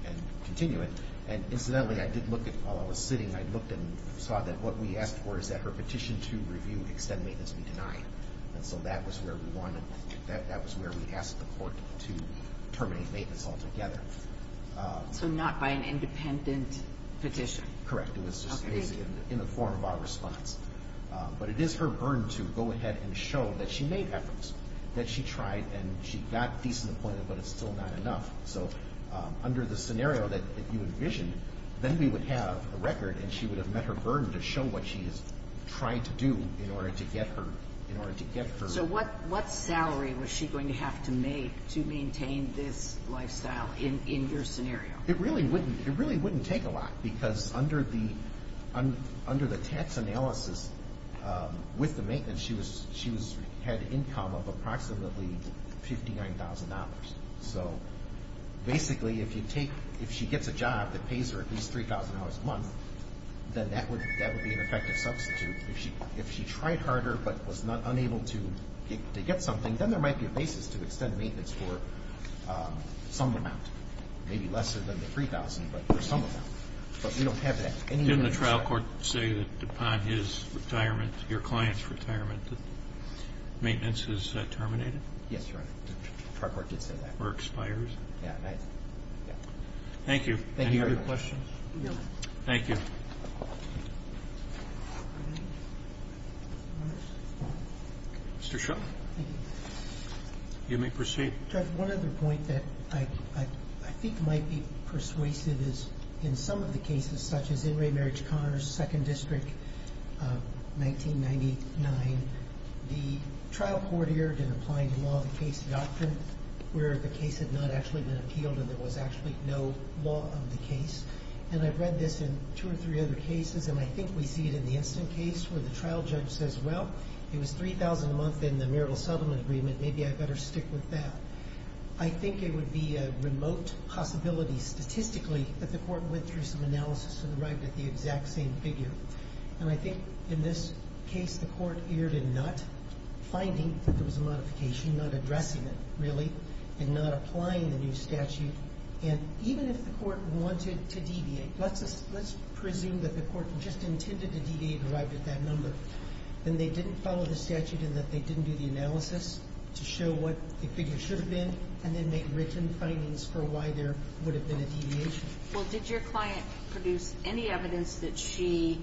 and continue it. And incidentally, I did look at – while I was sitting, I looked and saw that what we asked for is that her petition to review extend maintenance be denied. And so that was where we wanted – that was where we asked the court to terminate maintenance altogether. So not by an independent petition? Correct. It was just in the form of our response. But it is her burden to go ahead and show that she made efforts, that she tried and she got decent appointment, but it's still not enough. So under the scenario that you envisioned, then we would have a record and she would have met her burden to show what she is trying to do in order to get her – in order to get her – So what salary was she going to have to make to maintain this lifestyle in your scenario? It really wouldn't – it really wouldn't take a lot because under the – under the tax analysis with the maintenance, she was – she had income of approximately $59,000. So basically, if you take – if she gets a job that pays her at least $3,000 a month, then that would be an effective substitute. If she tried harder but was unable to get something, then there might be a basis to extend maintenance for some amount, maybe less than the $3,000, but for some amount. But we don't have that. Didn't the trial court say that upon his retirement, your client's retirement, that maintenance is terminated? Yes, Your Honor. The trial court did say that. Or expires? Yeah. Thank you. Thank you, Your Honor. Any other questions? No. Thank you. Mr. Shaw. Thank you. You may proceed. Judge, one other point that I think might be persuasive is in some of the cases, such as In re Marriage Connors, Second District, 1999, the trial court erred in applying the law of the case doctrine, where the case had not actually been appealed and there was actually no law of the case. And I've read this in two or three other cases, and I think we see it in the instant case where the trial judge says, Well, it was $3,000 a month in the marital settlement agreement. Maybe I'd better stick with that. I think it would be a remote possibility statistically that the court went through some analysis and arrived at the exact same figure. And I think in this case the court erred in not finding that there was a modification, not addressing it, really, and not applying the new statute. And even if the court wanted to deviate, let's presume that the court just intended to deviate and arrived at that number, then they didn't follow the statute in that they didn't do the analysis to show what the figure should have been and then make written findings for why there would have been a deviation. Well, did your client produce any evidence that she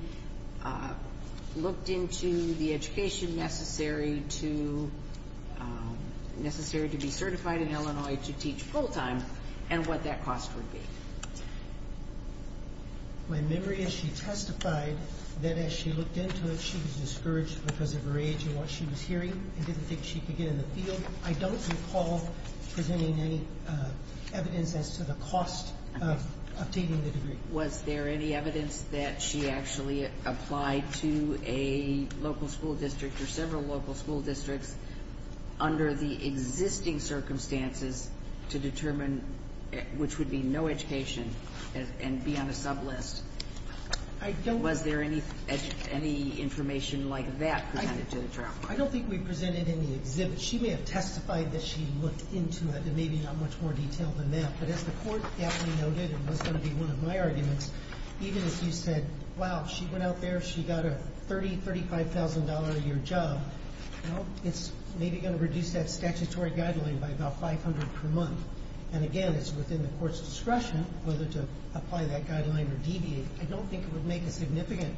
looked into the education necessary to be certified in Illinois to teach full-time and what that cost would be? My memory is she testified that as she looked into it, she was discouraged because of her age and what she was hearing and didn't think she could get in the field. I don't recall presenting any evidence as to the cost of obtaining the degree. Was there any evidence that she actually applied to a local school district or several local school districts under the existing circumstances to determine, which would be no education and be on a sublist? Was there any information like that presented to the trial court? I don't think we presented any exhibits. She may have testified that she looked into it and maybe not much more detail than that, but as the court aptly noted and was going to be one of my arguments, even if you said, wow, she went out there, she got a $30,000, $35,000-a-year job, well, it's maybe going to reduce that statutory guideline by about $500 per month and, again, it's within the court's discretion whether to apply that guideline or deviate. I don't think it would make a significant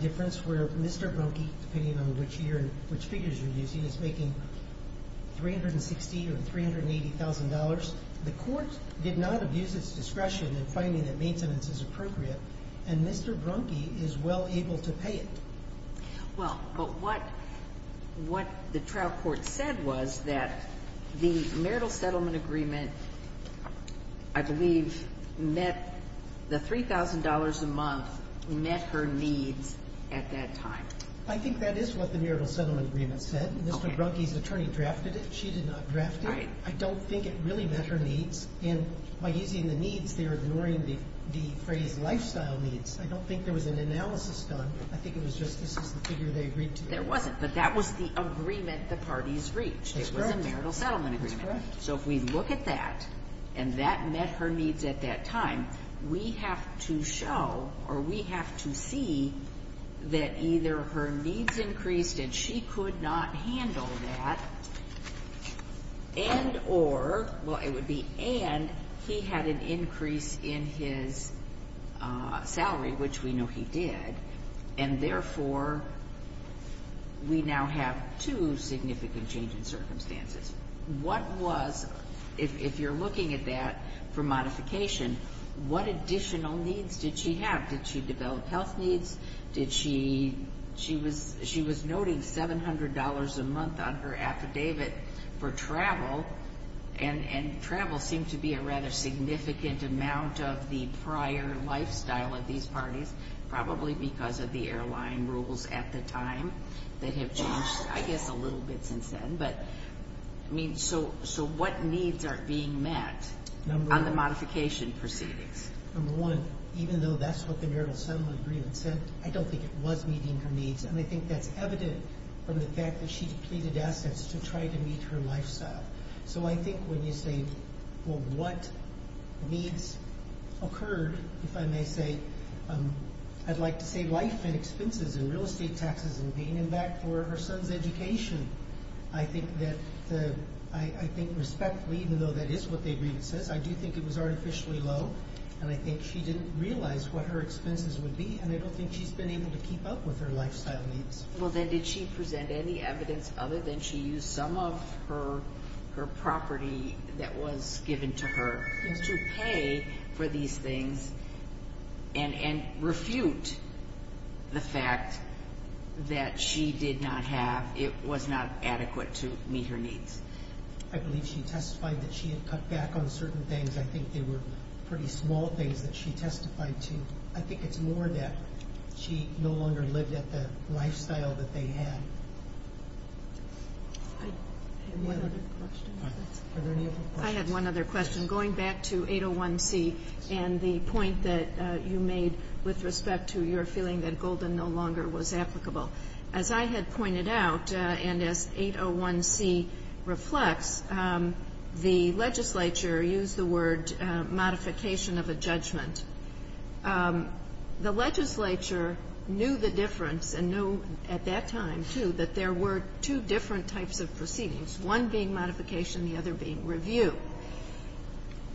difference where Mr. Brunke, depending on which year and which figures you're using, is making $360,000 or $380,000. The court did not abuse its discretion in finding that maintenance is appropriate, and Mr. Brunke is well able to pay it. Well, but what the trial court said was that the marital settlement agreement, I believe, met the $3,000 a month met her needs at that time. I think that is what the marital settlement agreement said. Mr. Brunke's attorney drafted it. She did not draft it. I don't think it really met her needs. And by using the needs, they're ignoring the phrase lifestyle needs. I don't think there was an analysis done. I think it was just this is the figure they agreed to. There wasn't, but that was the agreement the parties reached. It was a marital settlement agreement. That's correct. So if we look at that and that met her needs at that time, we have to show or we have to see that either her needs increased and she could not handle that and or, well, it would be and he had an increase in his salary, which we know he did, and therefore we now have two significant changes in circumstances. What was, if you're looking at that for modification, what additional needs did she have? Did she develop health needs? She was noting $700 a month on her affidavit for travel, and travel seemed to be a rather significant amount of the prior lifestyle of these parties, probably because of the airline rules at the time that have changed, I guess, a little bit since then. But, I mean, so what needs are being met on the modification proceedings? Number one, even though that's what the marital settlement agreement said, I don't think it was meeting her needs, and I think that's evident from the fact that she depleted assets to try to meet her lifestyle. So I think when you say, well, what needs occurred, if I may say, I'd like to say life and expenses and real estate taxes and paying him back for her son's education. I think that the, I think respectfully, even though that is what the agreement says, I do think it was artificially low, and I think she didn't realize what her expenses would be, and I don't think she's been able to keep up with her lifestyle needs. Well, then did she present any evidence other than she used some of her property that was given to her to pay for these things and refute the fact that she did not have, it was not adequate to meet her needs? I believe she testified that she had cut back on certain things. I think they were pretty small things that she testified to. I think it's more that she no longer lived at the lifestyle that they had. Any other questions? Are there any other questions? I have one other question. Going back to 801C and the point that you made with respect to your feeling that Golden no longer was applicable. As I had pointed out, and as 801C reflects, the legislature used the word modification of a judgment. The legislature knew the difference and knew at that time, too, that there were two different types of proceedings, one being modification, the other being review.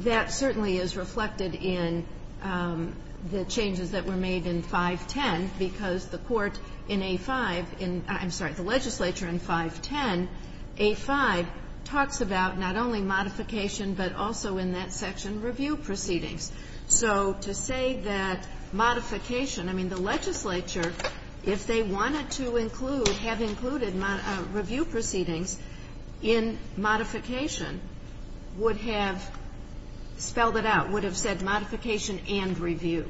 That certainly is reflected in the changes that were made in 510 because the court in A5, I'm sorry, the legislature in 510, A5, talks about not only modification but also in that section review proceedings. So to say that modification, I mean, the legislature, if they wanted to include, would have included review proceedings in modification, would have spelled it out, would have said modification and review,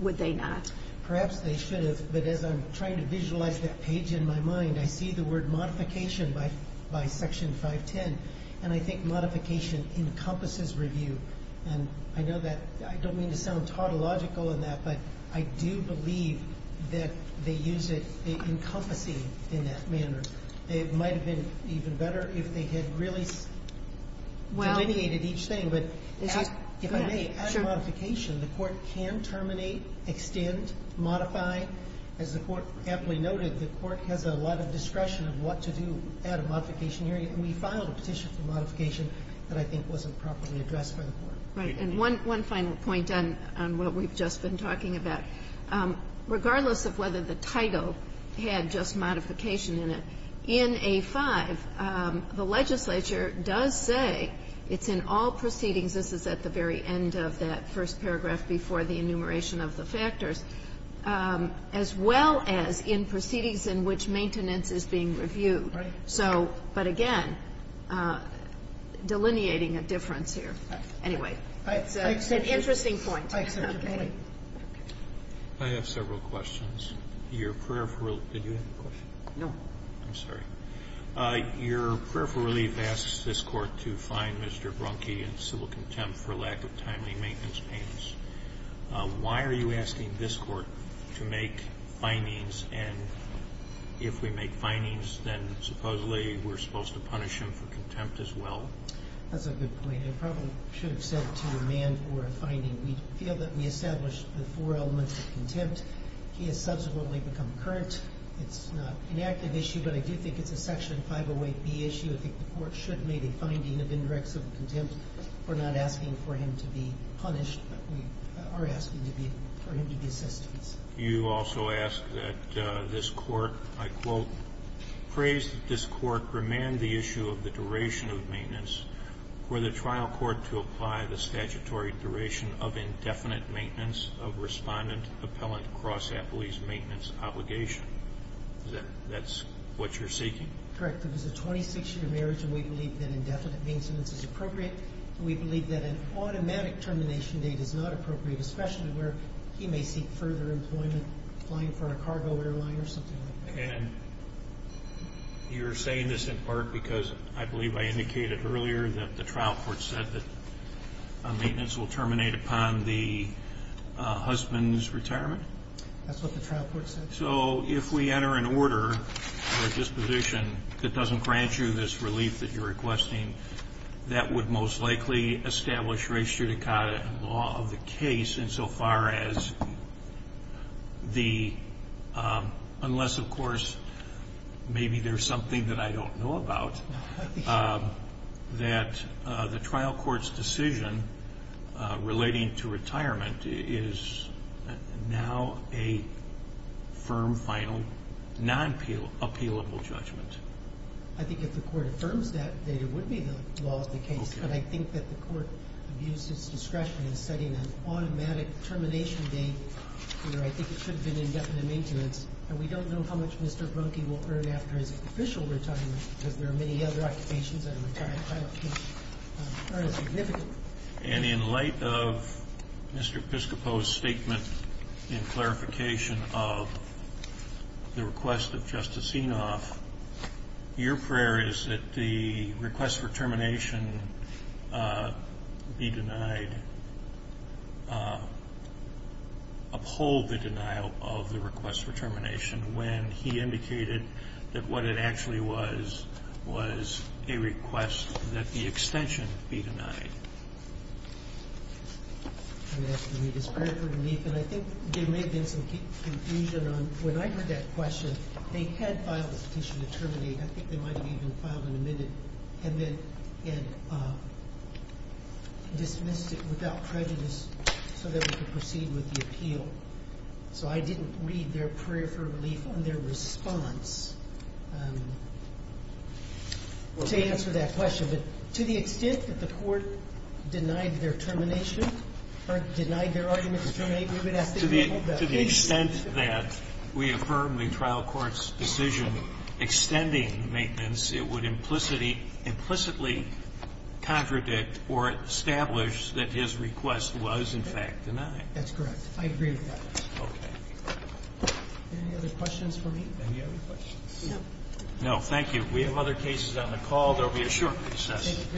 would they not? Perhaps they should have, but as I'm trying to visualize that page in my mind, I see the word modification by Section 510, and I think modification encompasses review. And I know that I don't mean to sound tautological in that, but I do believe that they use it, they encompass it in that manner. It might have been even better if they had really delineated each thing. But if I may, add modification, the court can terminate, extend, modify. As the Court aptly noted, the Court has a lot of discretion of what to do at a modification hearing, and we filed a petition for modification that I think wasn't properly addressed by the Court. Right. And one final point on what we've just been talking about. Regardless of whether the title had just modification in it, in A-5, the legislature does say it's in all proceedings. This is at the very end of that first paragraph before the enumeration of the factors. As well as in proceedings in which maintenance is being reviewed. Right. So, but again, delineating a difference here. Anyway. It's an interesting point. Okay. I have several questions. Your prayer for relief. Did you have a question? No. I'm sorry. Your prayer for relief asks this Court to find Mr. Brunke in civil contempt for lack of timely maintenance payments. Why are you asking this Court to make findings, and if we make findings, then supposedly we're supposed to punish him for contempt as well? That's a good point. I probably should have said to a man for a finding. We feel that we established the four elements of contempt. He has subsequently become current. It's not an active issue, but I do think it's a Section 508B issue. I think the Court should make a finding of indirect civil contempt. We're not asking for him to be punished, but we are asking for him to be assessed. You also ask that this Court, I quote, to apply the statutory duration of indefinite maintenance of respondent-appellant cross-appellee's maintenance obligation. That's what you're seeking? Correct. It was a 26-year marriage, and we believe that indefinite maintenance is appropriate. We believe that an automatic termination date is not appropriate, especially where he may seek further employment applying for a cargo airline or something like that. And you're saying this in part because, I believe I indicated earlier, that the trial court said that maintenance will terminate upon the husband's retirement? That's what the trial court said. So if we enter an order or disposition that doesn't grant you this relief that you're requesting, that would most likely establish res judicata in law of the case insofar as the unless, of course, maybe there's something that I don't know about, that the trial court's decision relating to retirement is now a firm, final, non-appealable judgment. I think if the court affirms that, then it would be the law of the case. But I think that the court abused its discretion in setting an automatic termination date where I think it should have been indefinite maintenance. And we don't know how much Mr. Brunke will earn after his official retirement because there are many other occupations that a retired pilot can earn significantly. And in light of Mr. Piscopo's statement in clarification of the request of Justice Enoff, your prayer is that the request for termination be denied, uphold the denial of the request for termination when he indicated that what it actually was was a request that the extension be denied. I'm going to ask to read his prayer for relief. And I think there may have been some confusion on when I heard that question, but they had filed a petition to terminate. I think they might have even filed an amended and then dismissed it without prejudice so that we could proceed with the appeal. So I didn't read their prayer for relief on their response to answer that question. But to the extent that the court denied their termination or denied their argument to terminate, we would ask that you hold that. But to the extent that we affirm the trial court's decision extending maintenance, it would implicitly contradict or establish that his request was in fact denied. That's correct. I agree with that. Okay. Any other questions for me? Any other questions? No. No, thank you. We have other cases on the call. There will be a short recess.